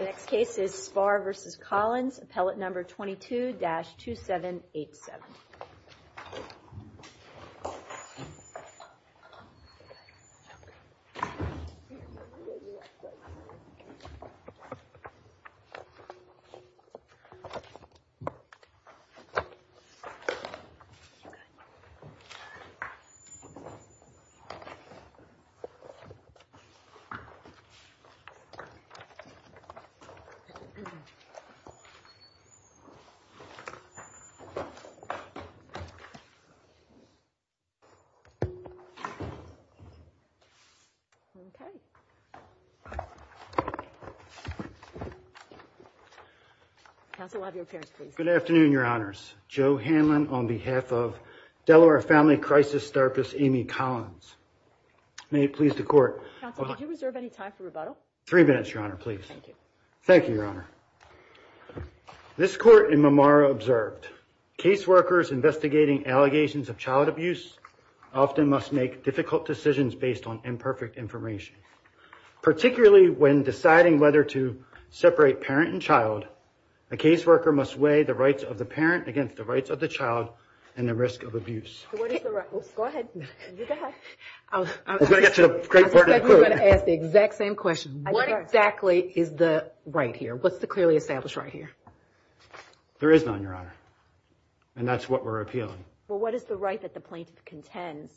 The next case is Spahr v. Collins, appellate number 22-2787. Good afternoon, your honors. Joe Hanlon on behalf of Delaware Family Crisis therapist Amy Collins. May it please the court. Counsel, did you reserve any time for rebuttal? Three minutes, your honor, please. Thank you, your honor. This court in Mamara observed, caseworkers investigating allegations of child abuse often must make difficult decisions based on imperfect information. Particularly when deciding whether to separate parent and child, a caseworker must weigh the rights of the parent against the rights of the child and the risk of abuse. Go ahead. Go ahead. We're going to get to the great part of the court. I suspect we're going to ask the exact same question. What exactly is the right here? What's the clearly established right here? There is none, your honor. And that's what we're appealing. Well, what is the right that the plaintiff contends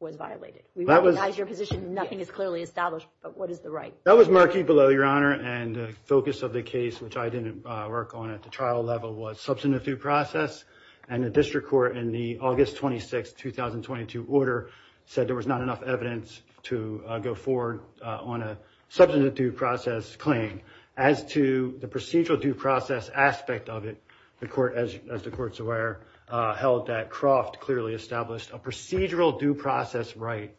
was violated? We recognize your position. Nothing is clearly established, but what is the right? That was murky below, your honor. And the focus of the case, which I didn't work on at the trial level, was substantive due process. And the district court in the August 26, 2022 order said there was not enough evidence to go forward on a substantive due process claim. As to the procedural due process aspect of it, the court, as the court's aware, held that Croft clearly established a procedural due process right.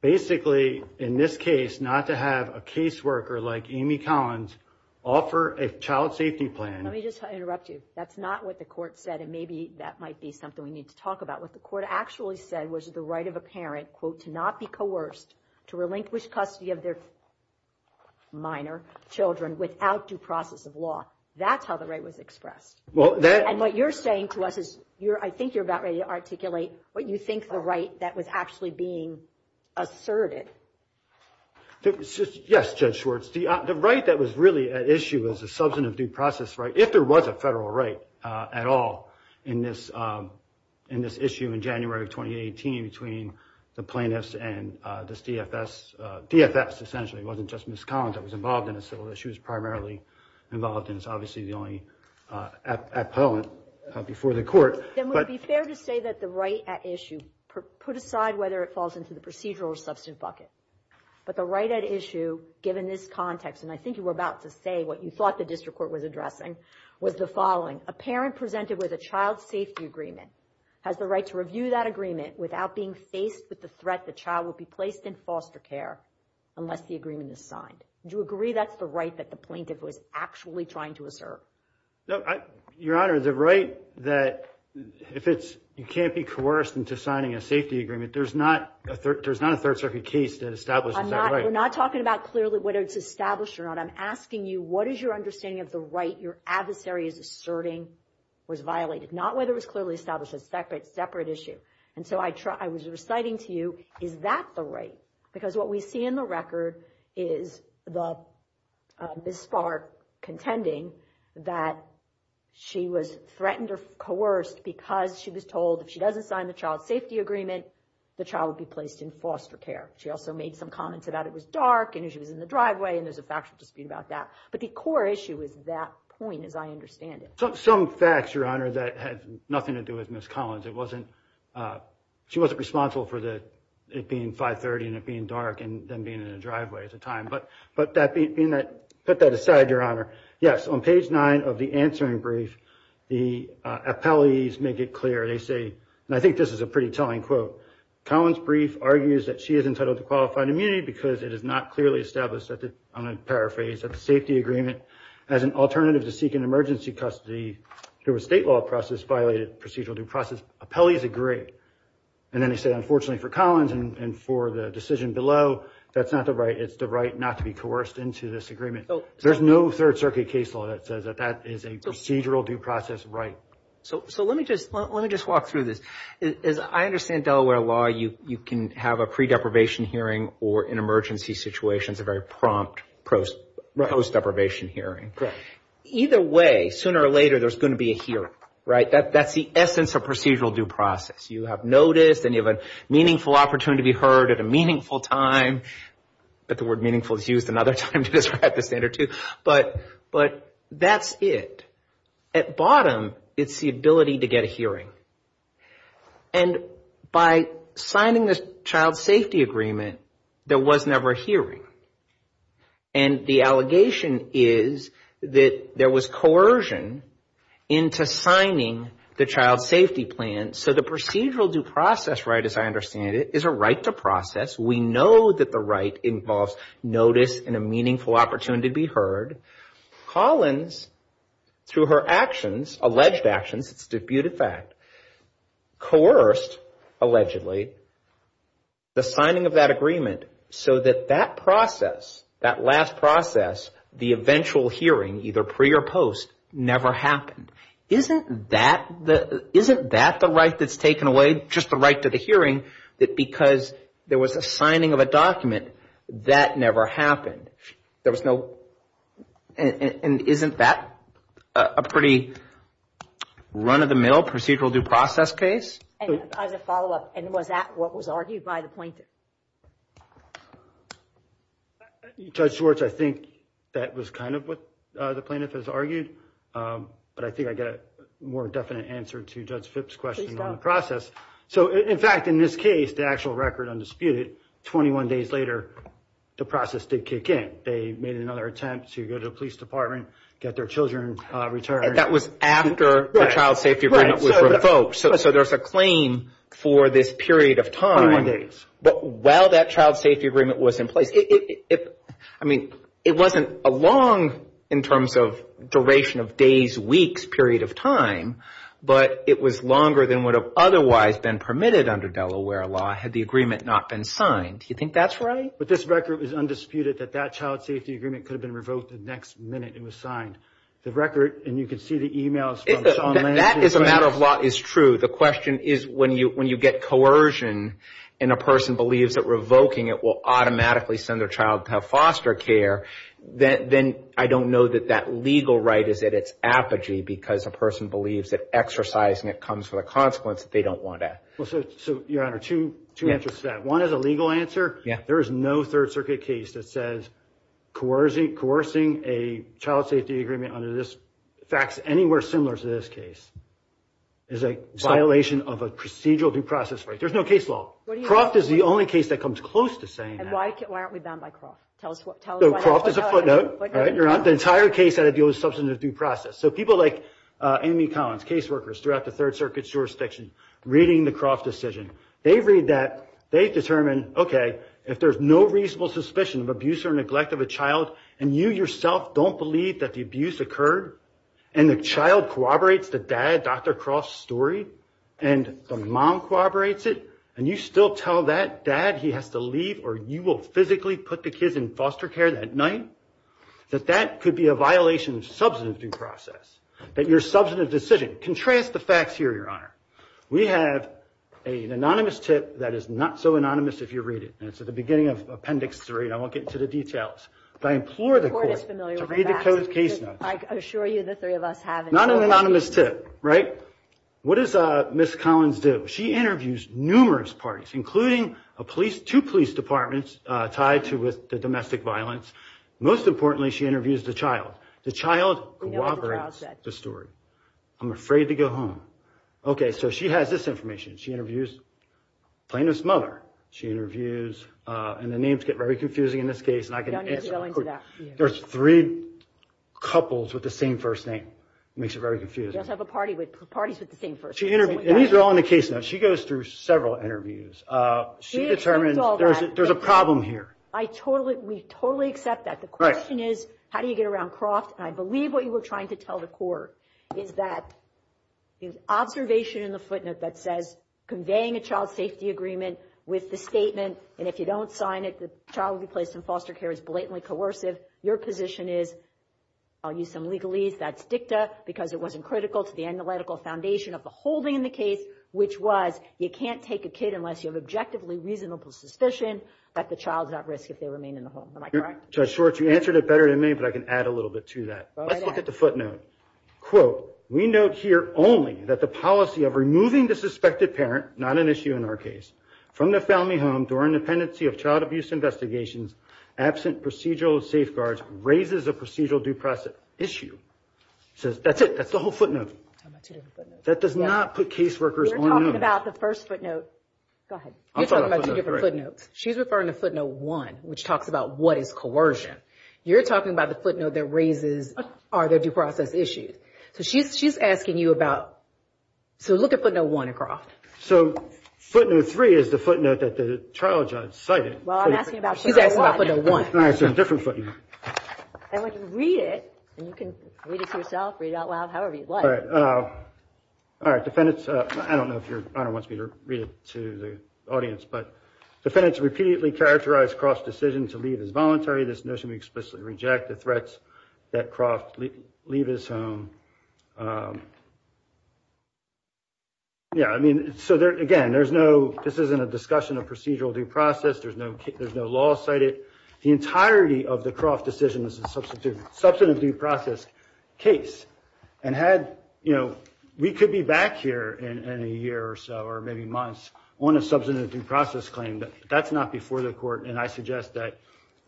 Basically, in this case, not to have a caseworker like Amy Collins offer a child safety plan. Let me just interrupt you. That's not what the court said. And maybe that might be something we need to talk about. What the court actually said was the right of a parent, quote, to not be coerced to relinquish custody of their minor children without due process of law. That's how the right was expressed. And what you're saying to us is I think you're about ready to articulate what you think the right that was actually being asserted. Yes, Judge Schwartz. The right that was really at issue was a substantive due process right. If there was a federal right at all in this issue in January of 2018 between the plaintiffs and this DFS. DFS, essentially, wasn't just Ms. Collins that was involved in a civil issue. She was primarily involved and is obviously the only appellant before the court. Then would it be fair to say that the right at issue, put aside whether it falls into the procedural or substantive bucket, but the right at issue, given this context, and I think you were about to say what you thought the district court was addressing, was the following. A parent presented with a child safety agreement has the right to review that agreement without being faced with the threat the child would be placed in foster care unless the agreement is signed. Do you agree that's the right that the plaintiff was actually trying to assert? Your Honor, the right that if you can't be coerced into signing a safety agreement, there's not a Third Circuit case that establishes that right. We're not talking about clearly whether it's established or not. I'm asking you what is your understanding of the right your adversary is asserting was violated, not whether it was clearly established as a separate issue. And so I was reciting to you, is that the right? Because what we see in the record is Ms. Spark contending that she was threatened or coerced because she was told if she doesn't sign the child safety agreement, the child would be placed in foster care. She also made some comments about it was dark and she was in the driveway and there's a factual dispute about that. But the core issue is that point as I understand it. Some facts, Your Honor, that had nothing to do with Ms. Collins. It wasn't, she wasn't responsible for the, it being 530 and it being dark and them being in the driveway at the time. But that being that, put that aside, Your Honor. Yes, on page nine of the answering brief, the appellees make it clear. They say, and I think this is a pretty telling quote. Collins' brief argues that she is entitled to qualified immunity because it is not clearly established, I'm going to paraphrase, that the safety agreement as an alternative to seek an emergency custody through a state law process violated procedural due process. Appellees agree. And then they say, unfortunately for Collins and for the decision below, that's not the right. It's the right not to be coerced into this agreement. There's no Third Circuit case law that says that that is a procedural due process right. So let me just walk through this. I understand Delaware law, you can have a pre-deprivation hearing or in emergency situations, a very prompt post-deprivation hearing. Correct. Either way, sooner or later, there's going to be a hearing, right? That's the essence of procedural due process. You have noticed and you have a meaningful opportunity to be heard at a meaningful time. But the word meaningful is used another time to describe the standard too. But that's it. At bottom, it's the ability to get a hearing. And by signing this child safety agreement, there was never a hearing. And the allegation is that there was coercion into signing the child safety plan. So the procedural due process right, as I understand it, is a right to process. We know that the right involves notice and a meaningful opportunity to be heard. Collins, through her actions, alleged actions, it's a disputed fact, coerced, allegedly, the signing of that agreement so that that process, that last process, the eventual hearing, either pre or post, never happened. Isn't that the right that's taken away, just the right to the hearing, that because there was a signing of a document, that never happened? And isn't that a pretty run-of-the-mill procedural due process case? As a follow-up, and was that what was argued by the plaintiff? Judge Schwartz, I think that was kind of what the plaintiff has argued. But I think I get a more definite answer to Judge Phipps' question on the process. So, in fact, in this case, the actual record, undisputed, 21 days later, the process did kick in. They made another attempt to go to the police department, get their children returned. And that was after the child safety agreement was revoked. So there's a claim for this period of time. Twenty-one days. But while that child safety agreement was in place, I mean, it wasn't a long, in terms of duration of days, weeks period of time, but it was longer than would have otherwise been permitted under Delaware law, had the agreement not been signed. Do you think that's right? But this record was undisputed, that that child safety agreement could have been revoked the next minute it was signed. The record, and you can see the e-mails. That, as a matter of law, is true. The question is, when you get coercion and a person believes that revoking it will automatically send their child to have foster care, then I don't know that that legal right is at its apogee, because a person believes that exercising it comes with a consequence that they don't want to. So, Your Honor, two answers to that. One is a legal answer. There is no Third Circuit case that says coercing a child safety agreement under this, facts anywhere similar to this case, is a violation of a procedural due process right. There's no case law. Croft is the only case that comes close to saying that. And why aren't we bound by Croft? Croft is a footnote. Your Honor, the entire case had to deal with substantive due process. So people like Amy Collins, case workers throughout the Third Circuit's jurisdiction, reading the Croft decision, they read that, they determine, okay, if there's no reasonable suspicion of abuse or neglect of a child, and you yourself don't believe that the abuse occurred, and the child corroborates the dad, Dr. Croft's story, and the mom corroborates it, and you still tell that dad he has to leave or you will physically put the kids in foster care that night, that that could be a violation of substantive due process, that your substantive decision. Contrast the facts here, Your Honor. We have an anonymous tip that is not so anonymous if you read it, and it's at the beginning of Appendix 3, and I won't get into the details, but I implore the Court to read the Code's case notes. I assure you the three of us haven't. Not an anonymous tip, right? What does Ms. Collins do? She interviews numerous parties, including two police departments tied to the domestic violence. Most importantly, she interviews the child. The child corroborates the story. I'm afraid to go home. Okay, so she has this information. She interviews plaintiff's mother. She interviews, and the names get very confusing in this case, and I can answer. There's three couples with the same first name. It makes it very confusing. She does have parties with the same first name. And these are all in the case notes. She goes through several interviews. She determines there's a problem here. We totally accept that. The question is, how do you get around Croft? And I believe what you were trying to tell the Court is that the observation in the footnote that says, conveying a child safety agreement with the statement, and if you don't sign it, the child will be placed in foster care is blatantly coercive. Your position is, I'll use some legalese. That's dicta because it wasn't critical to the analytical foundation of the whole thing in the case, which was you can't take a kid unless you have objectively reasonable suspicion that the child's at risk if they remain in the home. Am I correct? Judge Schwartz, you answered it better than me, but I can add a little bit to that. Let's look at the footnote. Quote, we note here only that the policy of removing the suspected parent, not an issue in our case, from the family home during the pendency of child abuse investigations, absent procedural safeguards, raises a procedural due process issue. That's it. That's the whole footnote. That does not put caseworkers on notice. You're talking about the first footnote. Go ahead. You're talking about two different footnotes. She's referring to footnote one, which talks about what is coercion. You're talking about the footnote that raises are there due process issues. So she's asking you about, so look at footnote one at Croft. So footnote three is the footnote that the trial judge cited. Well, I'm asking about footnote one. She's asking about footnote one. All right, so a different footnote. And when you read it, and you can read it to yourself, read it out loud, however you'd like. All right. All right, defendants, I don't know if your Honor wants me to read it to the audience, but defendants repeatedly characterize Croft's decision to leave as voluntary. This notion we explicitly reject, the threats that Croft leave his home. Yeah, I mean, so again, there's no, this isn't a discussion of procedural due process. There's no law cited. The entirety of the Croft decision is a substantive due process case. And had, you know, we could be back here in a year or so, or maybe months, on a substantive due process claim. But that's not before the court. And I suggest that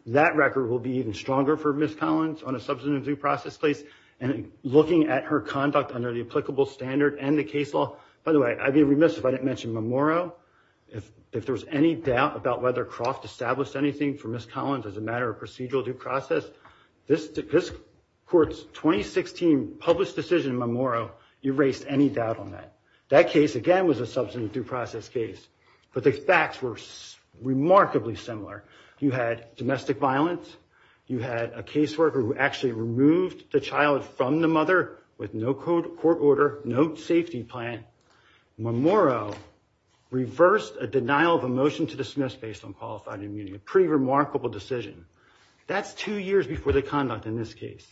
that record will be even stronger for Ms. Collins on a substantive due process case. And looking at her conduct under the applicable standard and the case law. By the way, I'd be remiss if I didn't mention Memorial. If there was any doubt about whether Croft established anything for Ms. Collins as a matter of procedural due process, this court's 2016 published decision in Memorial erased any doubt on that. That case, again, was a substantive due process case. But the facts were remarkably similar. You had domestic violence. You had a caseworker who actually removed the child from the mother with no court order, no safety plan. Memorial reversed a denial of a motion to dismiss based on qualified immunity. A pretty remarkable decision. That's two years before the conduct in this case.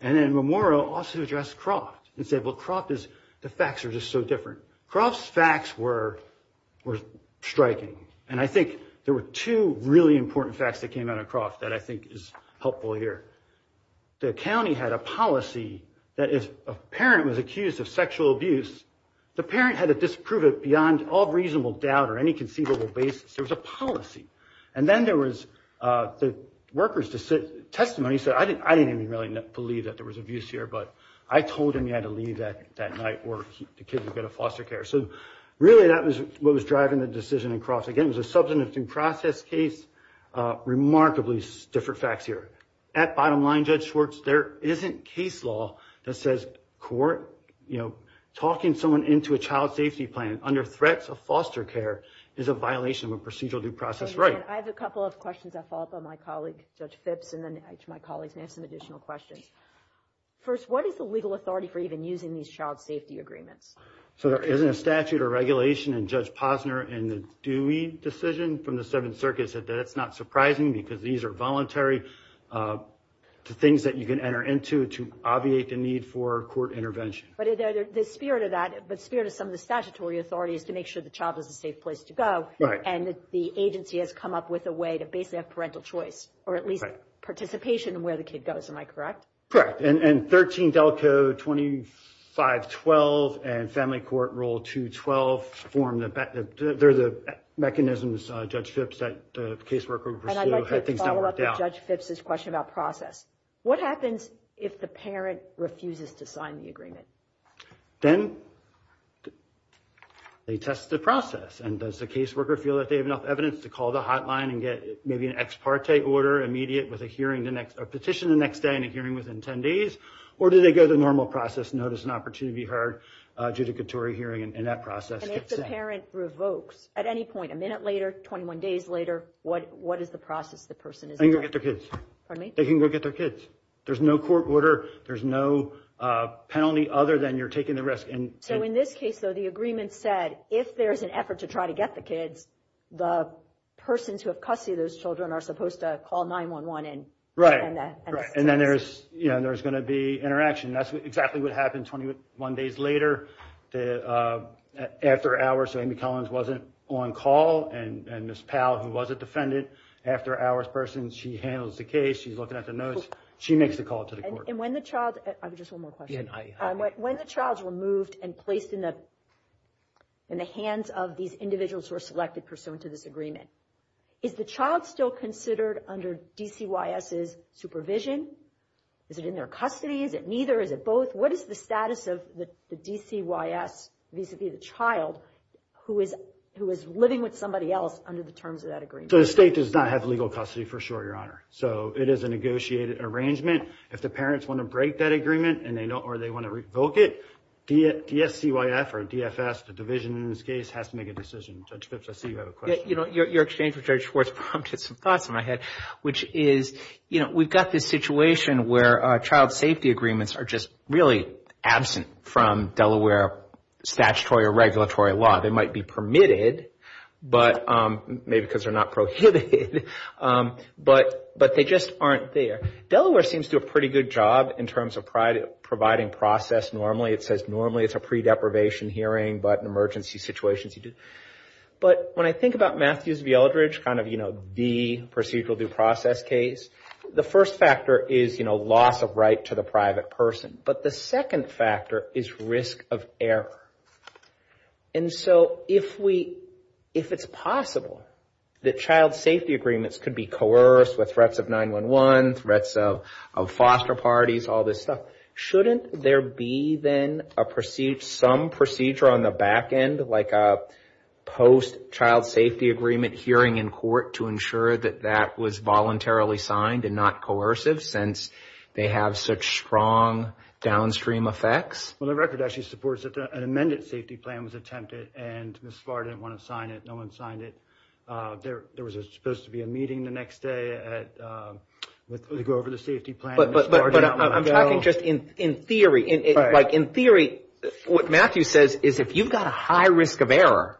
And then Memorial also addressed Croft and said, well, Croft is, the facts are just so different. Croft's facts were striking. And I think there were two really important facts that came out of Croft that I think is helpful here. The county had a policy that if a parent was accused of sexual abuse, the parent had to disprove it beyond all reasonable doubt or any conceivable basis. There was a policy. And then there was the worker's testimony. He said, I didn't even really believe that there was abuse here, but I told him he had to leave that night or the kid was going to foster care. So really that was what was driving the decision in Croft. Again, it was a substantive due process case. Remarkably different facts here. At bottom line, Judge Schwartz, there isn't case law that says court, you know, talking someone into a child safety plan under threats of foster care is a violation of a procedural due process right. I have a couple of questions that follow up on my colleague, Judge Phipps, and then my colleagues may have some additional questions. First, what is the legal authority for even using these child safety agreements? So there isn't a statute or regulation. And Judge Posner in the Dewey decision from the Seventh Circuit said that it's not surprising because these are voluntary things that you can enter into to obviate the need for court intervention. But the spirit of that, the spirit of some of the statutory authority, is to make sure the child is a safe place to go. And the agency has come up with a way to basically have parental choice or at least participation in where the kid goes. Am I correct? Correct. And 13 Delco 2512 and Family Court Rule 212 form the mechanisms, Judge Phipps, that the caseworker would pursue. And I'd like to follow up with Judge Phipps' question about process. What happens if the parent refuses to sign the agreement? Then they test the process. And does the caseworker feel that they have enough evidence to call the hotline and get maybe an ex parte order immediate with a petition the next day and a hearing within 10 days? Or do they go the normal process, notice an opportunity to be heard, adjudicatory hearing, and that process gets sent? And if the parent revokes at any point, a minute later, 21 days later, what is the process the person is in? They can go get their kids. Pardon me? They can go get their kids. There's no court order. There's no penalty other than you're taking the risk. So in this case, though, the agreement said if there's an effort to try to get the kids, the persons who have custody of those children are supposed to call 911. Right. And then there's going to be interaction. That's exactly what happened 21 days later. After hours, Amy Collins wasn't on call. And Ms. Powell, who was a defendant, after-hours person, she handles the case. She's looking at the notes. She makes the call to the court. And when the child – I have just one more question. When the child's removed and placed in the hands of these individuals who are selected pursuant to this agreement, is the child still considered under DCYS's supervision? Is it in their custody? Is it neither? Is it both? What is the status of the DCYS vis-à-vis the child who is living with somebody else under the terms of that agreement? So the state does not have legal custody, for sure, Your Honor. So it is a negotiated arrangement. If the parents want to break that agreement or they want to revoke it, DSCYF or DFS, the division in this case, has to make a decision. Judge Phipps, I see you have a question. Your exchange with Judge Schwartz prompted some thoughts in my head, which is we've got this situation where child safety agreements are just really absent from Delaware statutory or regulatory law. They might be permitted, maybe because they're not prohibited, but they just aren't there. Delaware seems to do a pretty good job in terms of providing process normally. It says normally it's a pre-deprivation hearing, but in emergency situations you do. But when I think about Matthews v. Eldridge, kind of, you know, the procedural due process case, the first factor is, you know, loss of right to the private person. But the second factor is risk of error. And so if it's possible that child safety agreements could be coerced with threats of 911, threats of foster parties, all this stuff, shouldn't there be then some procedure on the back end, like a post-child safety agreement hearing in court to ensure that that was voluntarily signed and not coercive since they have such strong downstream effects? Well, the record actually supports that an amended safety plan was attempted, and Ms. Farr didn't want to sign it. No one signed it. There was supposed to be a meeting the next day to go over the safety plan. But I'm talking just in theory. Like, in theory, what Matthews says is if you've got a high risk of error,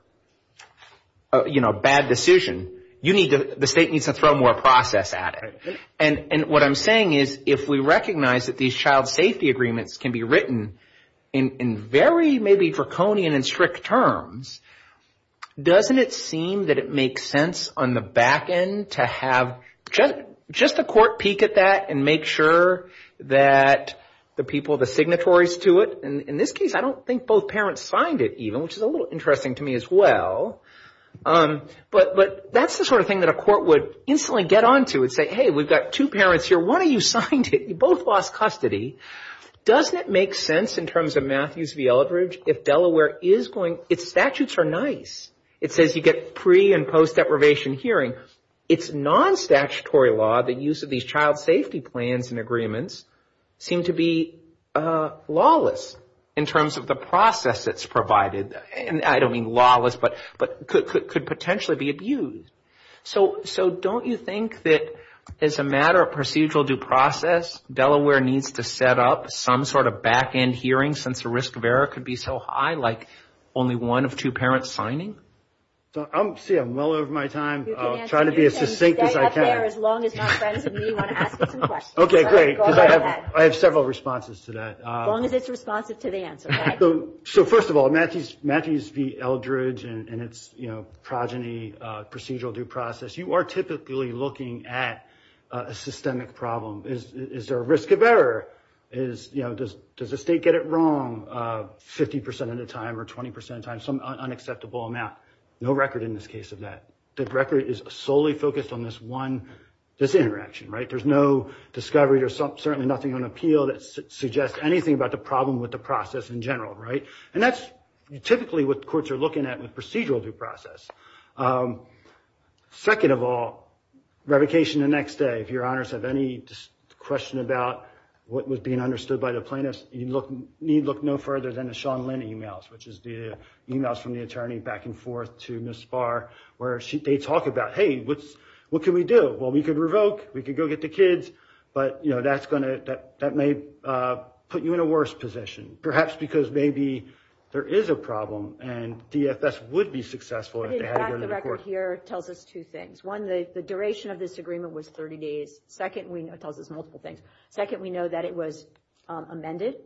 you know, bad decision, the state needs to throw more process at it. And what I'm saying is if we recognize that these child safety agreements can be written in very maybe draconian and strict terms, doesn't it seem that it makes sense on the back end to have just a court peek at that and make sure that the people, the signatories to it, and in this case I don't think both parents signed it even, which is a little interesting to me as well. But that's the sort of thing that a court would instantly get on to and say, hey, we've got two parents here. One of you signed it. You both lost custody. Doesn't it make sense in terms of Matthews v. Eldridge if Delaware is going, its statutes are nice. It says you get pre- and post-deprivation hearing. It's non-statutory law, the use of these child safety plans and agreements, seem to be lawless in terms of the process that's provided. And I don't mean lawless, but could potentially be abused. So don't you think that as a matter of procedural due process, Delaware needs to set up some sort of back end hearing since the risk of error could be so high, like only one of two parents signing? See, I'm well over my time. I'll try to be as succinct as I can. Okay, great, because I have several responses to that. As long as it's responsive to the answer. So first of all, Matthews v. Eldridge and its progeny procedural due process, you are typically looking at a systemic problem. Is there a risk of error? Does the state get it wrong 50% of the time or 20% of the time, some unacceptable amount? No record in this case of that. The record is solely focused on this one, this interaction, right? There's no discovery. There's certainly nothing on appeal that suggests anything about the problem with the process in general, right? And that's typically what courts are looking at with procedural due process. Second of all, revocation the next day. If your honors have any question about what was being understood by the plaintiffs, you need look no further than the Sean Lynn emails, which is the emails from the attorney back and forth to Ms. Spahr where they talk about, hey, what can we do? Well, we could revoke. We could go get the kids. But, you know, that may put you in a worse position, perhaps because maybe there is a problem and DFS would be successful if they had to go to the court. In fact, the record here tells us two things. One, the duration of this agreement was 30 days. Second, it tells us multiple things. Second, we know that it was amended.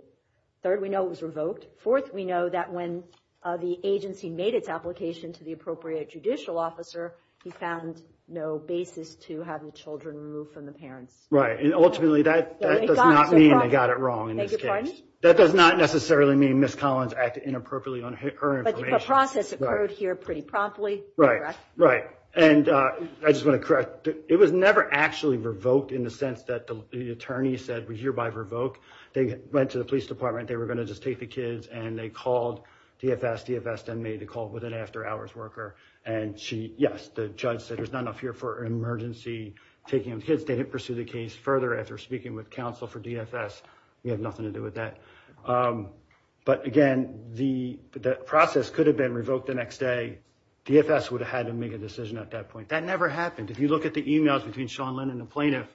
Third, we know it was revoked. Fourth, we know that when the agency made its application to the appropriate judicial officer, he found no basis to having children removed from the parents. And ultimately, that does not mean they got it wrong in this case. That does not necessarily mean Ms. Collins acted inappropriately on her information. But the process occurred here pretty promptly. Right. And I just want to correct. It was never actually revoked in the sense that the attorney said we hereby revoke. They went to the police department. They were going to just take the kids. And they called DFS, DFS then made a call with an after-hours worker. And she, yes, the judge said there's not enough here for emergency taking of kids. They didn't pursue the case further after speaking with counsel for DFS. We have nothing to do with that. But again, the process could have been revoked the next day. DFS would have had to make a decision at that point. That never happened. If you look at the emails between Sean Lynn and the plaintiff,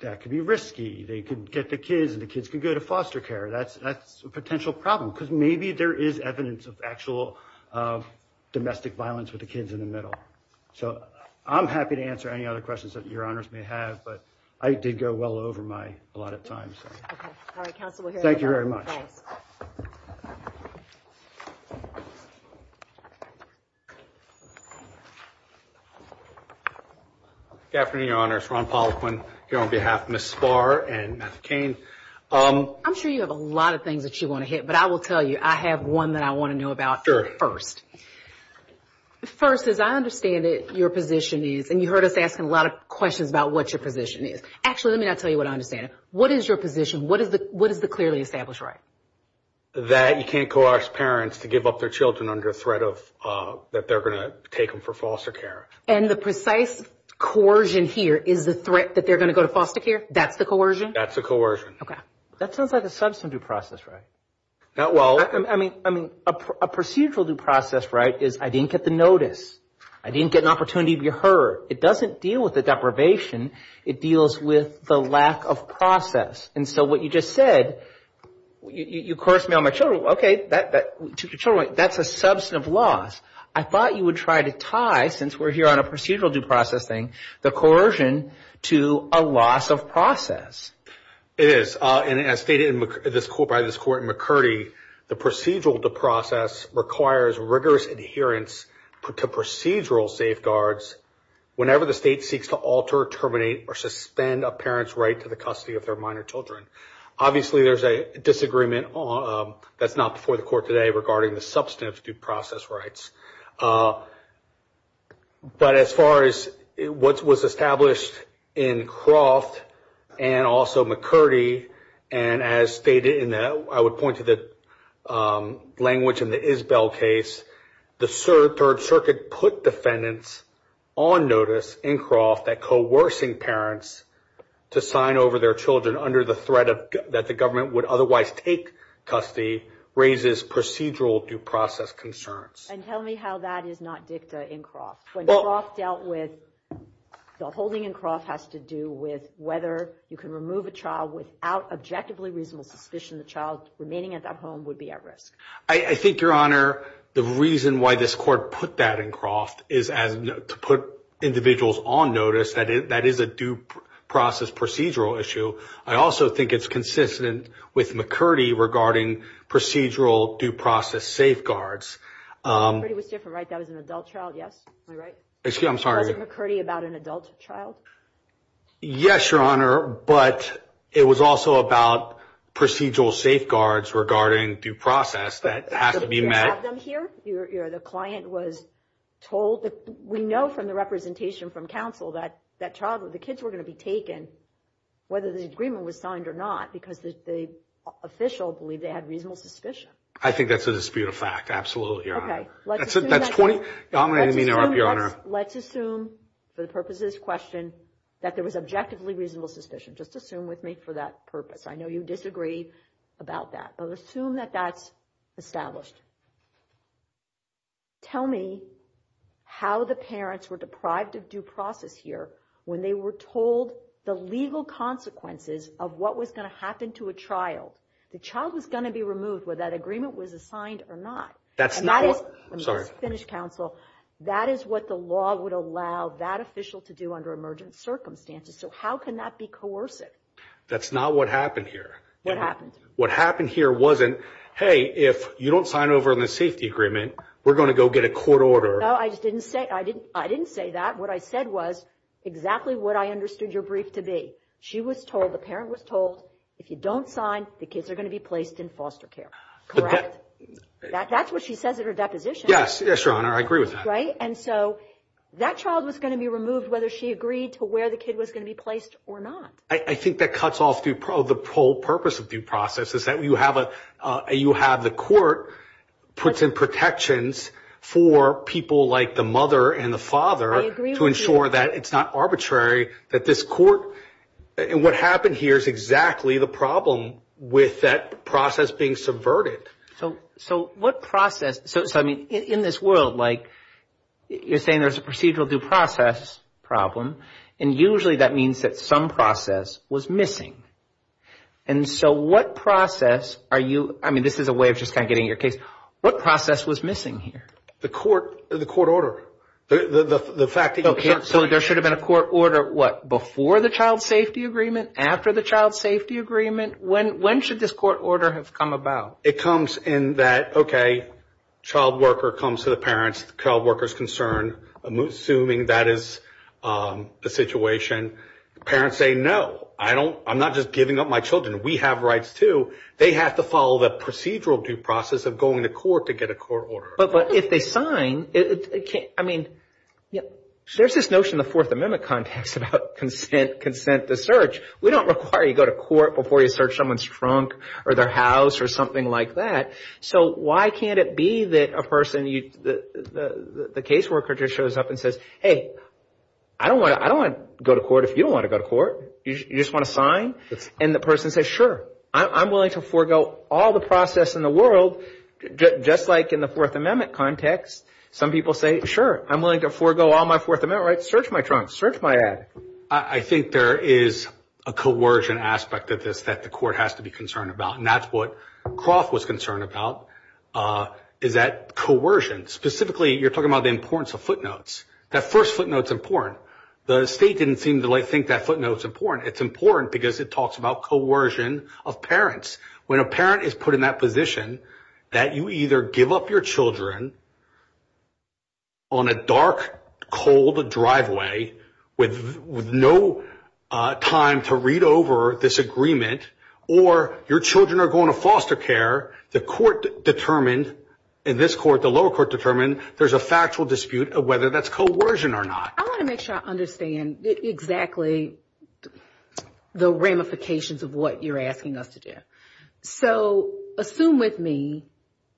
that could be risky. They could get the kids, and the kids could go to foster care. That's a potential problem. Because maybe there is evidence of actual domestic violence with the kids in the middle. So I'm happy to answer any other questions that Your Honors may have. But I did go well over my allotted time. Okay. All right, counsel, we'll hear from you. Thank you very much. Thanks. Good afternoon, Your Honors. Ron Poliquin here on behalf of Ms. Spahr and Ms. Cain. I'm sure you have a lot of things that you want to hit. But I will tell you, I have one that I want to know about first. Sure. First, as I understand it, your position is, and you heard us asking a lot of questions about what your position is. Actually, let me not tell you what I understand. What is your position? What is the clearly established right? That you can't coerce parents to give up their children under threat that they're going to take them for foster care. And the precise coercion here is the threat that they're going to go to foster care? That's the coercion? That's the coercion. Okay. That sounds like a substantive process, right? I mean, a procedural due process, right, is I didn't get the notice. I didn't get an opportunity to be heard. It doesn't deal with the deprivation. It deals with the lack of process. And so what you just said, you coerced me on my children. Okay, that's a substantive loss. I thought you would try to tie, since we're here on a procedural due process thing, the coercion to a loss of process. It is. And as stated by this court in McCurdy, the procedural due process requires rigorous adherence to procedural safeguards whenever the state seeks to alter, terminate, or suspend a parent's right to the custody of their minor children. Obviously, there's a disagreement that's not before the court today regarding the substantive due process rights. But as far as what was established in Croft and also McCurdy, and as stated, I would point to the language in the Isbell case, the Third Circuit put defendants on notice in Croft that coercing parents to sign over their children under the threat that the government would otherwise take custody raises procedural due process concerns. And tell me how that is not dicta in Croft. When Croft dealt with the holding in Croft has to do with whether you can remove a child without objectively reasonable suspicion the child remaining at that home would be at risk. I think, Your Honor, the reason why this court put that in Croft is to put individuals on notice. That is a due process procedural issue. I also think it's consistent with McCurdy regarding procedural due process safeguards. McCurdy was different, right? That was an adult child, yes? Am I right? Excuse me, I'm sorry. Was it McCurdy about an adult child? Yes, Your Honor, but it was also about procedural safeguards regarding due process that has to be met. Did you have them here? The client was told? We know from the representation from counsel that the kids were going to be taken, whether the agreement was signed or not, because the official believed they had reasonable suspicion. I think that's a disputed fact. Absolutely, Your Honor. That's 20. Let's assume, for the purposes of this question, that there was objectively reasonable suspicion. Just assume with me for that purpose. I know you disagree about that, but assume that that's established. Tell me how the parents were deprived of due process here when they were told the legal consequences of what was going to happen to a child. The child was going to be removed whether that agreement was signed or not. That's not... Let me just finish, counsel. That is what the law would allow that official to do under emergent circumstances. So how can that be coercive? That's not what happened here. What happened? What happened here wasn't, hey, if you don't sign over on the safety agreement, we're going to go get a court order. No, I didn't say that. What I said was exactly what I understood your brief to be. She was told, the parent was told, if you don't sign, the kids are going to be placed in foster care. Correct? That's what she says in her deposition. Yes, Your Honor, I agree with that. Right? And so that child was going to be removed whether she agreed to where the kid was going to be placed or not. I think that cuts off the whole purpose of due process is that you have the court puts in protections for people like the mother and the father... I agree with you. ...to ensure that it's not arbitrary that this court... And what happened here is exactly the problem with that process being subverted. So what process... So, I mean, in this world, like, you're saying there's a procedural due process problem. And usually that means that some process was missing. And so what process are you... I mean, this is a way of just kind of getting your case. What process was missing here? The court order. The fact that you can't... So there should have been a court order, what, before the child safety agreement, after the child safety agreement? When should this court order have come about? It comes in that, okay, child worker comes to the parents. The child worker is concerned. Assuming that is the situation, parents say, no, I don't... I'm not just giving up my children. We have rights, too. They have to follow the procedural due process of going to court to get a court order. But if they sign, it can't... I mean, there's this notion in the Fourth Amendment context about consent to search. We don't require you go to court before you search someone's trunk or their house or something like that. So why can't it be that a person, the caseworker just shows up and says, hey, I don't want to go to court if you don't want to go to court. You just want to sign? And the person says, sure, I'm willing to forego all the process in the world, just like in the Fourth Amendment context. Some people say, sure, I'm willing to forego all my Fourth Amendment rights. Search my trunk. Search my ad. I think there is a coercion aspect of this that the court has to be concerned about. And that's what Croft was concerned about, is that coercion. Specifically, you're talking about the importance of footnotes. That first footnote's important. The state didn't seem to think that footnote's important. It's important because it talks about coercion of parents. When a parent is put in that position, that you either give up your children on a dark, cold driveway with no time to read over this agreement, or your children are going to foster care, the court determined, and this court, the lower court determined, there's a factual dispute of whether that's coercion or not. I want to make sure I understand exactly the ramifications of what you're asking us to do. So assume with me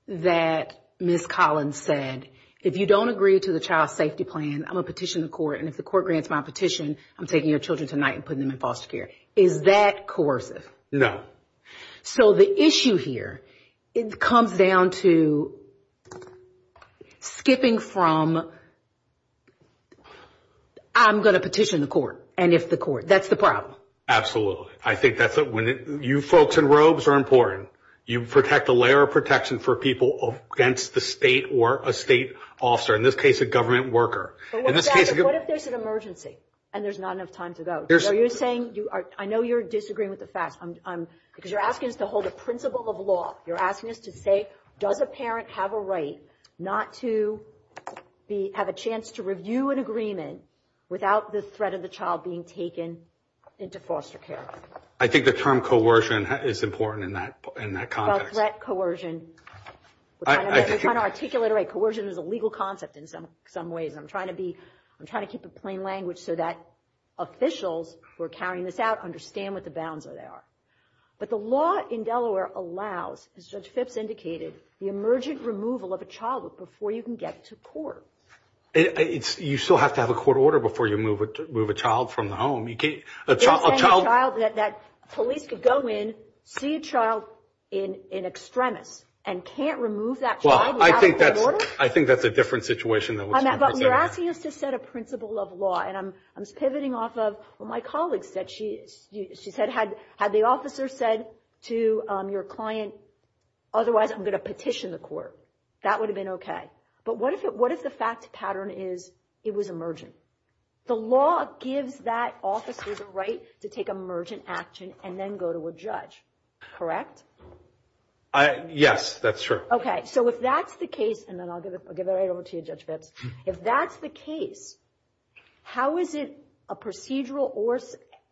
that Ms. Collins said, if you don't agree to the child safety plan, I'm going to petition the court, and if the court grants my petition, I'm taking your children tonight and putting them in foster care. Is that coercive? No. So the issue here, it comes down to skipping from I'm going to petition the court, and if the court. That's the problem. I think that's when you folks in robes are important. You protect a layer of protection for people against the state or a state officer, in this case a government worker. But what if there's an emergency and there's not enough time to go? So you're saying, I know you're disagreeing with the facts, because you're asking us to hold a principle of law. You're asking us to say, does a parent have a right not to have a chance to review an agreement without the threat of the child being taken into foster care? I think the term coercion is important in that context. Well, threat, coercion, we're trying to articulate it right. Coercion is a legal concept in some ways. And I'm trying to keep it plain language so that officials who are carrying this out understand what the bounds are there. But the law in Delaware allows, as Judge Phipps indicated, the emergent removal of a child before you can get to court. You still have to have a court order before you move a child from the home. A child that police could go in, see a child in extremis, and can't remove that child without a court order? I think that's a different situation. But you're asking us to set a principle of law. And I'm pivoting off of what my colleague said. She said, had the officer said to your client, otherwise I'm going to petition the court, that would have been okay. But what if the fact pattern is it was emergent? The law gives that officer the right to take emergent action and then go to a judge, correct? Yes, that's true. Okay, so if that's the case, and then I'll give it right over to you, Judge Phipps. If that's the case, how is it a procedural or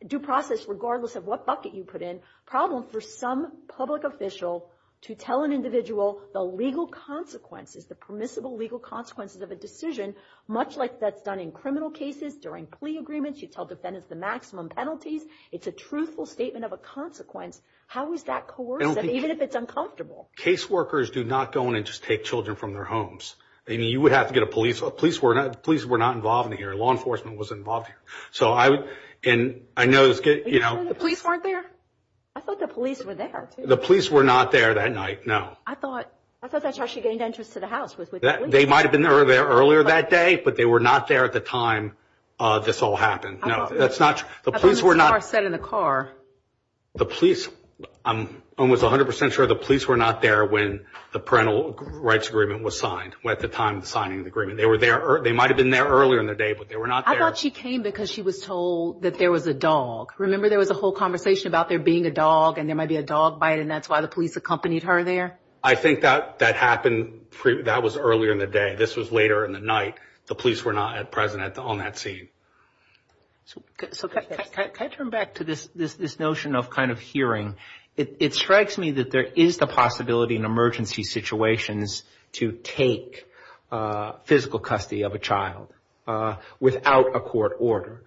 due process, regardless of what bucket you put in, problem for some public official to tell an individual the legal consequences, the permissible legal consequences of a decision, much like that's done in criminal cases, during plea agreements, you tell defendants the maximum penalties. It's a truthful statement of a consequence. How is that coercive, even if it's uncomfortable? Case workers do not go in and just take children from their homes. I mean, you would have to get a police. Police were not involved in here. Law enforcement was involved here. So I would – and I know – You thought the police weren't there? I thought the police were there, too. The police were not there that night, no. I thought that's how she gained entrance to the house, was with the police. They might have been there earlier that day, but they were not there at the time this all happened. No, that's not – the police were not – I thought Ms. Carr said in the car. The police – I'm almost 100 percent sure the police were not there when the parental rights agreement was signed, at the time of the signing of the agreement. They were there – they might have been there earlier in the day, but they were not there. I thought she came because she was told that there was a dog. Remember, there was a whole conversation about there being a dog and there might be a dog bite, and that's why the police accompanied her there? I think that happened – that was earlier in the day. This was later in the night. The police were not present on that scene. So can I turn back to this notion of kind of hearing? It strikes me that there is the possibility in emergency situations to take physical custody of a child without a court order.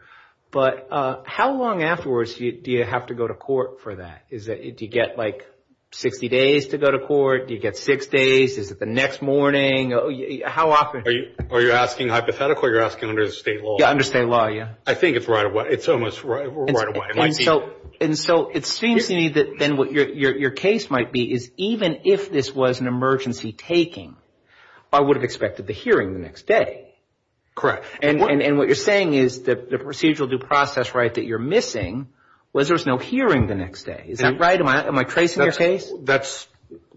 But how long afterwards do you have to go to court for that? Do you get like 60 days to go to court? Do you get six days? Is it the next morning? How often? Are you asking hypothetically or are you asking under the state law? Under state law, yeah. I think it's right away. It's almost right away. And so it seems to me that then what your case might be is even if this was an emergency taking, I would have expected the hearing the next day. Correct. And what you're saying is the procedural due process right that you're missing was there was no hearing the next day. Is that right? Am I tracing your case? That's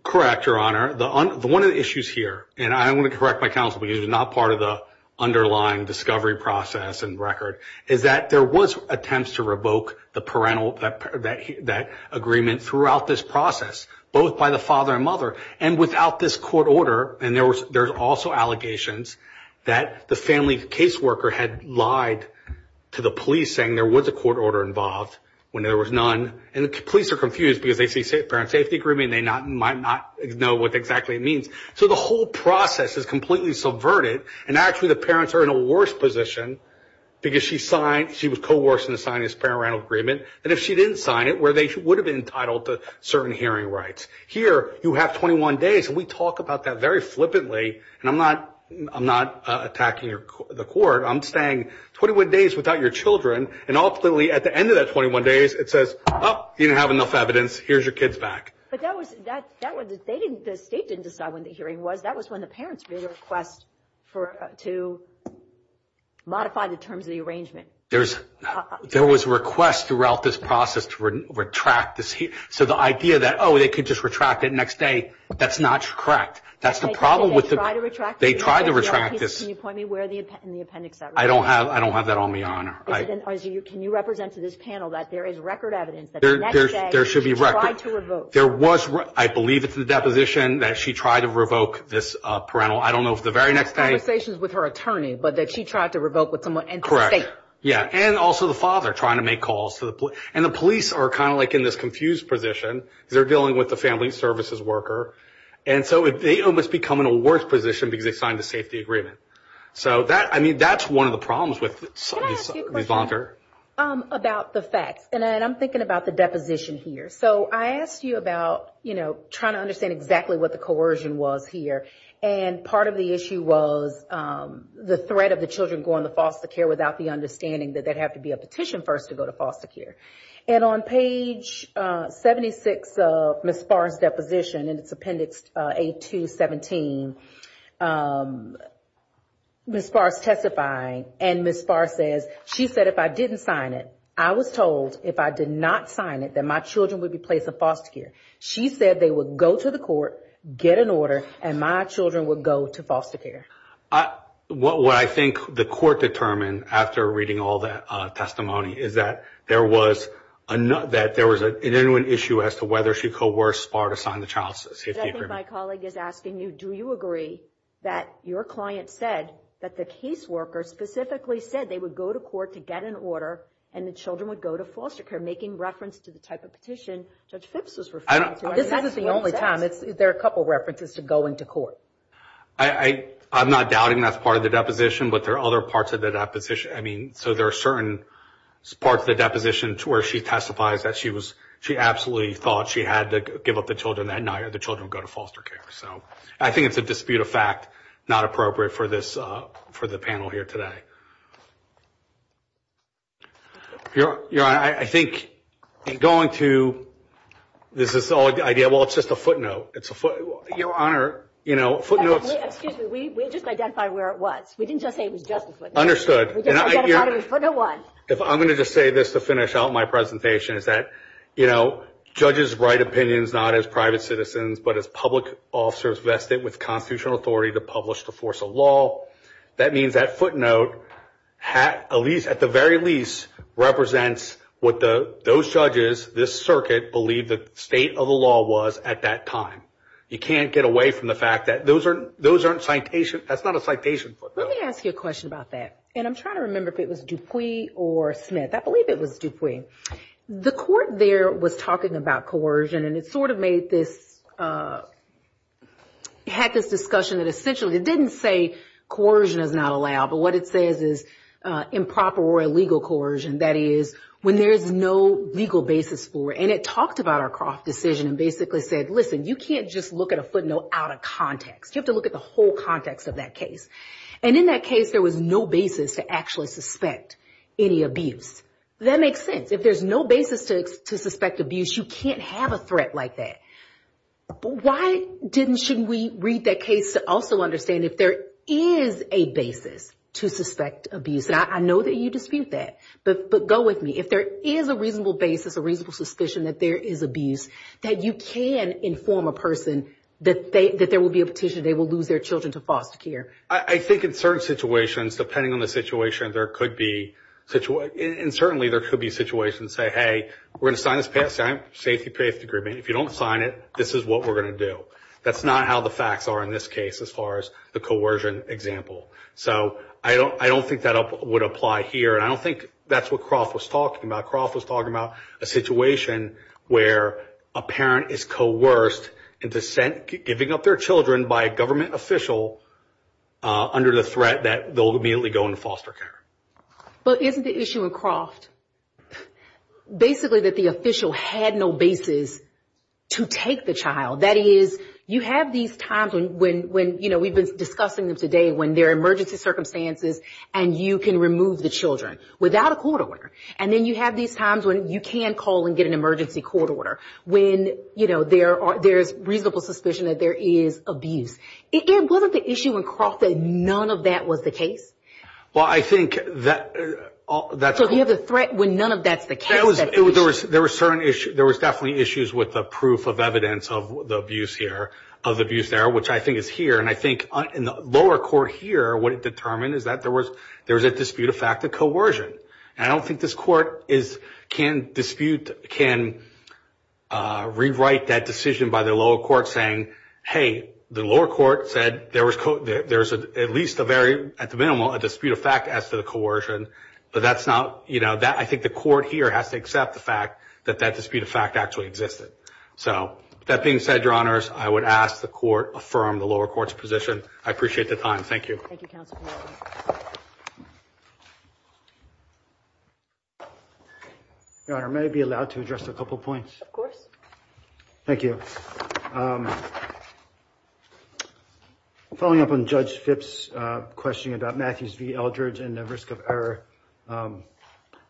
correct, Your Honor. One of the issues here, and I want to correct my counsel because he's not part of the underlying discovery process and record, is that there was attempts to revoke that agreement throughout this process, both by the father and mother, and without this court order. And there's also allegations that the family caseworker had lied to the police saying there was a court order involved when there was none. And the police are confused because they see parent safety agreement and they might not know what exactly it means. So the whole process is completely subverted. And actually the parents are in a worse position because she was coerced into signing this parental agreement than if she didn't sign it where they would have been entitled to certain hearing rights. Here you have 21 days, and we talk about that very flippantly. And I'm not attacking the court. I'm saying 21 days without your children. And ultimately at the end of that 21 days, it says, oh, you didn't have enough evidence. Here's your kids back. But that was the state didn't decide when the hearing was. That was when the parents made a request to modify the terms of the arrangement. There was a request throughout this process to retract this. So the idea that, oh, they could just retract it the next day, that's not correct. That's the problem with the – Did they try to retract it? They tried to retract this. Can you point me where in the appendix that was? I don't have that on me, Your Honor. Can you represent to this panel that there is record evidence that the next day she tried to revoke? There should be record. There was – I believe it's the deposition that she tried to revoke this parental. I don't know if the very next day – Conversations with her attorney, but that she tried to revoke with someone in the state. Correct. Yeah, and also the father trying to make calls to the – and the police are kind of like in this confused position because they're dealing with the family services worker. And so they almost become in a worse position because they signed the safety agreement. So that – I mean, that's one of the problems with – Can I ask you a question? Ms. Bonker? About the facts. And I'm thinking about the deposition here. So I asked you about, you know, trying to understand exactly what the coercion was here. And part of the issue was the threat of the children going to foster care without the understanding that they'd have to be a petition first to go to foster care. And on page 76 of Ms. Farr's deposition in its appendix A-217, Ms. Farr is testifying, and Ms. Farr says, she said, if I didn't sign it, I was told if I did not sign it that my children would be placed in foster care. She said they would go to the court, get an order, and my children would go to foster care. What I think the court determined after reading all that testimony is that there was – that there was an issue as to whether she coerced Farr to sign the child safety agreement. Judge, I think my colleague is asking you, do you agree that your client said that the caseworker specifically said they would go to court to get an order and the children would go to foster care, making reference to the type of petition Judge Phipps was referring to? I don't know. This isn't the only time. There are a couple of references to going to court. I'm not doubting that's part of the deposition, but there are other parts of the deposition. I mean, so there are certain parts of the deposition to where she testifies that she was – she had to give up the children that night or the children would go to foster care. So I think it's a dispute of fact, not appropriate for this – for the panel here today. Your Honor, I think going to – this is all – well, it's just a footnote. It's a footnote. Your Honor, you know, footnotes – Excuse me. We just identified where it was. We didn't just say it was just a footnote. Understood. We just identified it was footnote one. If I'm going to just say this to finish out my presentation is that, you know, judges write opinions not as private citizens but as public officers vested with constitutional authority to publish the force of law. That means that footnote at the very least represents what those judges, this circuit, believed the state of the law was at that time. You can't get away from the fact that those aren't citation – that's not a citation footnote. Let me ask you a question about that. And I'm trying to remember if it was Dupuis or Smith. I believe it was Dupuis. The court there was talking about coercion, and it sort of made this – had this discussion that essentially – it didn't say coercion is not allowed, but what it says is improper or illegal coercion, that is when there is no legal basis for it. And it talked about our Croft decision and basically said, listen, you can't just look at a footnote out of context. You have to look at the whole context of that case. And in that case, there was no basis to actually suspect any abuse. That makes sense. If there's no basis to suspect abuse, you can't have a threat like that. But why didn't – shouldn't we read that case to also understand if there is a basis to suspect abuse? And I know that you dispute that, but go with me. If there is a reasonable basis, a reasonable suspicion that there is abuse, that you can inform a person that they – that there will be a petition, they will lose their children to foster care. I think in certain situations, depending on the situation, there could be – and certainly there could be situations that say, hey, we're going to sign this safety-paced agreement. If you don't sign it, this is what we're going to do. That's not how the facts are in this case as far as the coercion example. So I don't think that would apply here, and I don't think that's what Croft was talking about. Croft was talking about a situation where a parent is coerced into giving up their children by a government official under the threat that they'll immediately go into foster care. But isn't the issue in Croft basically that the official had no basis to take the child? That is, you have these times when, you know, we've been discussing them today, when there are emergency circumstances and you can remove the children without a court order. And then you have these times when you can call and get an emergency court order, when, you know, there's reasonable suspicion that there is abuse. Wasn't the issue in Croft that none of that was the case? Well, I think that – So you have the threat when none of that's the case. There was definitely issues with the proof of evidence of the abuse there, which I think is here. And I think in the lower court here, what it determined is that there was a dispute of fact of coercion. And I don't think this court can dispute – can rewrite that decision by the lower court saying, hey, the lower court said there was at least a very – at the minimum, a dispute of fact as to the coercion. But that's not – you know, I think the court here has to accept the fact that that dispute of fact actually existed. So with that being said, Your Honors, I would ask the court affirm the lower court's position. I appreciate the time. Thank you. Thank you, Counsel. Your Honor, may I be allowed to address a couple points? Thank you. Following up on Judge Phipps' question about Matthews v. Eldridge and the risk of error,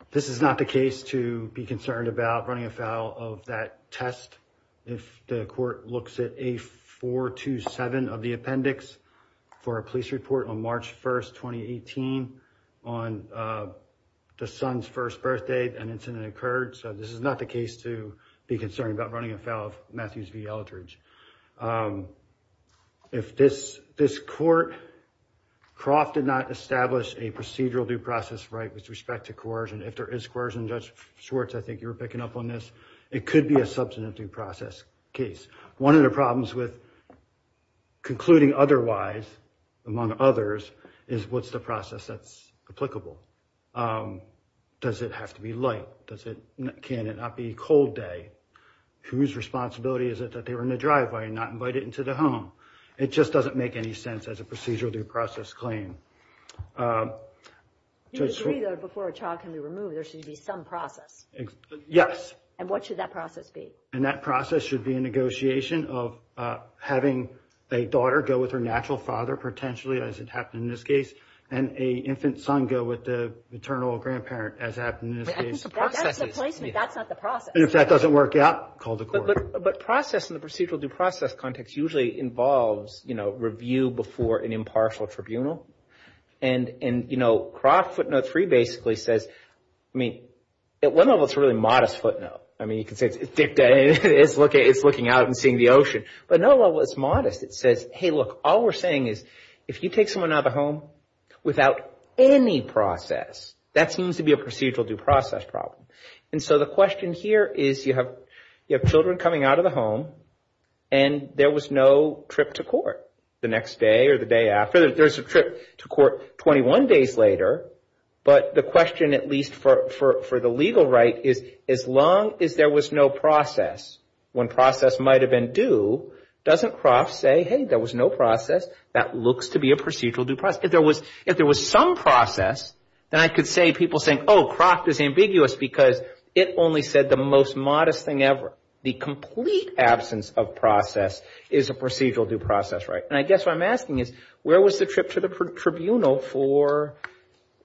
this is not the case to be concerned about running afoul of that test. If the court looks at A427 of the appendix for a police report on March 1st, 2018, on the son's first birthday, an incident occurred. So this is not the case to be concerned about running afoul of Matthews v. Eldridge. If this court – Croft did not establish a procedural due process right with respect to coercion. If there is coercion, Judge Schwartz, I think you were picking up on this. It could be a substantive due process case. One of the problems with concluding otherwise among others is what's the process that's applicable? Does it have to be light? Can it not be cold day? Whose responsibility is it that they were in the driveway and not invited into the home? It just doesn't make any sense as a procedural due process claim. Before a child can be removed, there should be some process. Yes. And what should that process be? And that process should be a negotiation of having a daughter go with her natural father, potentially, as had happened in this case, and an infant son go with the maternal or grandparent, as happened in this case. That's the placement. That's not the process. And if that doesn't work out, call the court. But process in the procedural due process context usually involves review before an impartial tribunal. And Croft Footnote 3 basically says, I mean, at one level, it's a really modest footnote. I mean, you can say it's looking out and seeing the ocean. But at another level, it's modest. It says, hey, look, all we're saying is if you take someone out of the home without any process, that seems to be a procedural due process problem. And so the question here is you have children coming out of the home and there was no trip to court. The next day or the day after, there's a trip to court 21 days later. But the question, at least for the legal right, is as long as there was no process, when process might have been due, doesn't Croft say, hey, there was no process. That looks to be a procedural due process. If there was some process, then I could say people saying, oh, Croft is ambiguous, because it only said the most modest thing ever. The complete absence of process is a procedural due process, right? And I guess what I'm asking is where was the trip to the tribunal for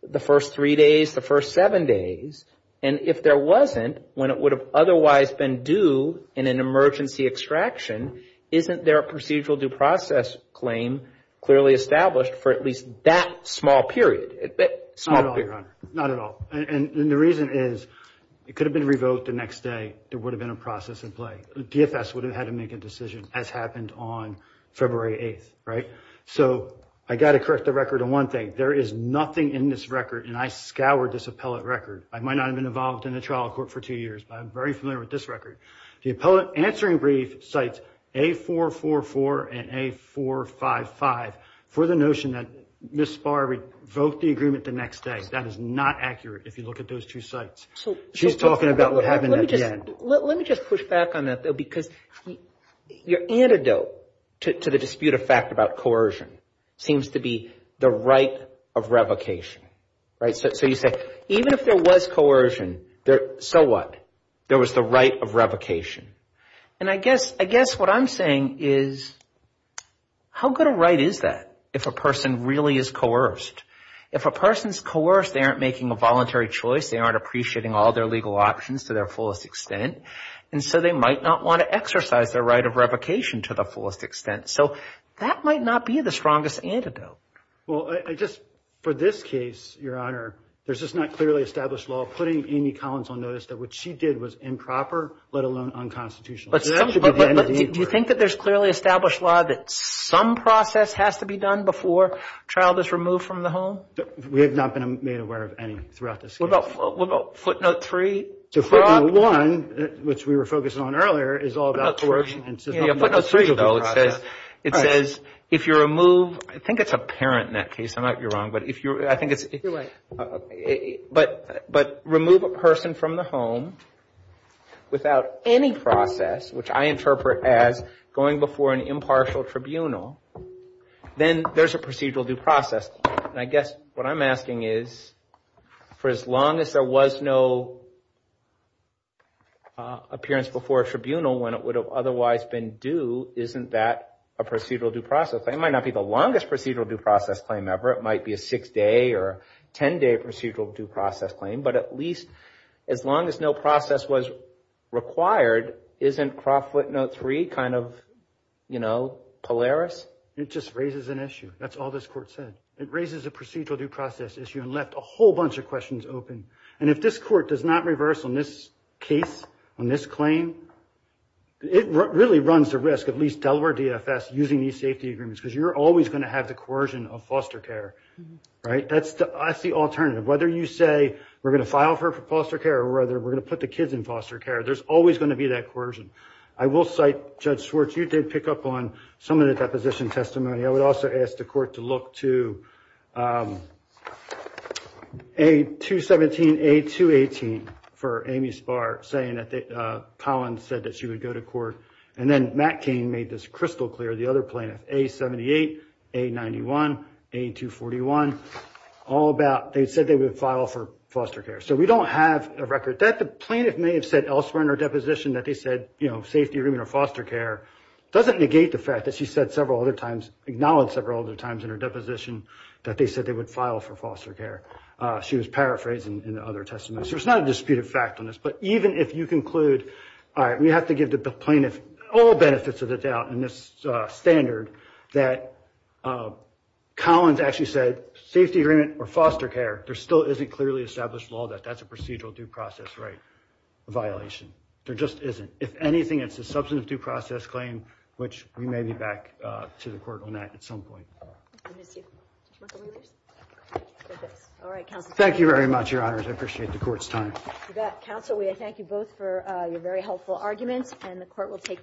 the first three days, the first seven days? And if there wasn't, when it would have otherwise been due in an emergency extraction, isn't there a procedural due process claim clearly established for at least that small period? Small period. Not at all, Your Honor. Not at all. And the reason is it could have been revoked the next day. There would have been a process in play. DFS would have had to make a decision, as happened on February 8th, right? So I got to correct the record on one thing. There is nothing in this record, and I scoured this appellate record. I might not have been involved in the trial court for two years, but I'm very familiar with this record. The appellate answering brief cites A444 and A455 for the notion that Ms. Spahr revoked the agreement the next day. That is not accurate if you look at those two cites. She's talking about what happened at the end. Let me just push back on that, though, because your antidote to the dispute of fact about coercion seems to be the right of revocation, right? So you say even if there was coercion, so what? There was the right of revocation. And I guess what I'm saying is how good a right is that if a person really is coerced? If a person is coerced, they aren't making a voluntary choice. They aren't appreciating all their legal options to their fullest extent. And so they might not want to exercise their right of revocation to the fullest extent. So that might not be the strongest antidote. Well, I just, for this case, Your Honor, there's just not clearly established law putting Amy Collins on notice that what she did was improper, let alone unconstitutional. Do you think that there's clearly established law that some process has to be done before a child is removed from the home? We have not been made aware of any throughout this case. What about footnote three? Footnote one, which we were focusing on earlier, is all about coercion. Footnote three, though, it says if you remove, I think it's a parent in that case. I might be wrong. You're right. But remove a person from the home without any process, which I interpret as going before an impartial tribunal, then there's a procedural due process. And I guess what I'm asking is for as long as there was no appearance before a tribunal when it would have otherwise been due, isn't that a procedural due process? That might not be the longest procedural due process claim ever. It might be a six-day or ten-day procedural due process claim. But at least as long as no process was required, isn't Crawfoot note three kind of, you know, Polaris? It just raises an issue. That's all this Court said. It raises a procedural due process issue and left a whole bunch of questions open. And if this Court does not reverse on this case, on this claim, it really runs the risk, at least Delaware DFS, using these safety agreements, because you're always going to have the coercion of foster care. Right? That's the alternative. Whether you say we're going to file for foster care or whether we're going to put the kids in foster care, there's always going to be that coercion. I will cite Judge Schwartz. You did pick up on some of the deposition testimony. I would also ask the Court to look to A217, A218 for Amy Spahr saying that Collins said that she would go to court. And then Matt Cain made this crystal clear, the other plaintiff, A78, A91, A241, all about they said they would file for foster care. So we don't have a record. But the plaintiff may have said elsewhere in her deposition that they said safety agreement or foster care. It doesn't negate the fact that she said several other times, acknowledged several other times in her deposition that they said they would file for foster care. She was paraphrased in other testimonies. So it's not a disputed fact on this. But even if you conclude, all right, we have to give the plaintiff all benefits of the doubt in this standard that Collins actually said safety agreement or foster care, there still isn't clearly established law that that's a procedural due process right violation. There just isn't. If anything, it's a substantive due process claim, which we may be back to the Court on that at some point. I miss you. Judge Michael Lewis. All right, counsel. Thank you very much, Your Honors. I appreciate the Court's time. Counsel, we thank you both for your very helpful arguments. And the Court will take them.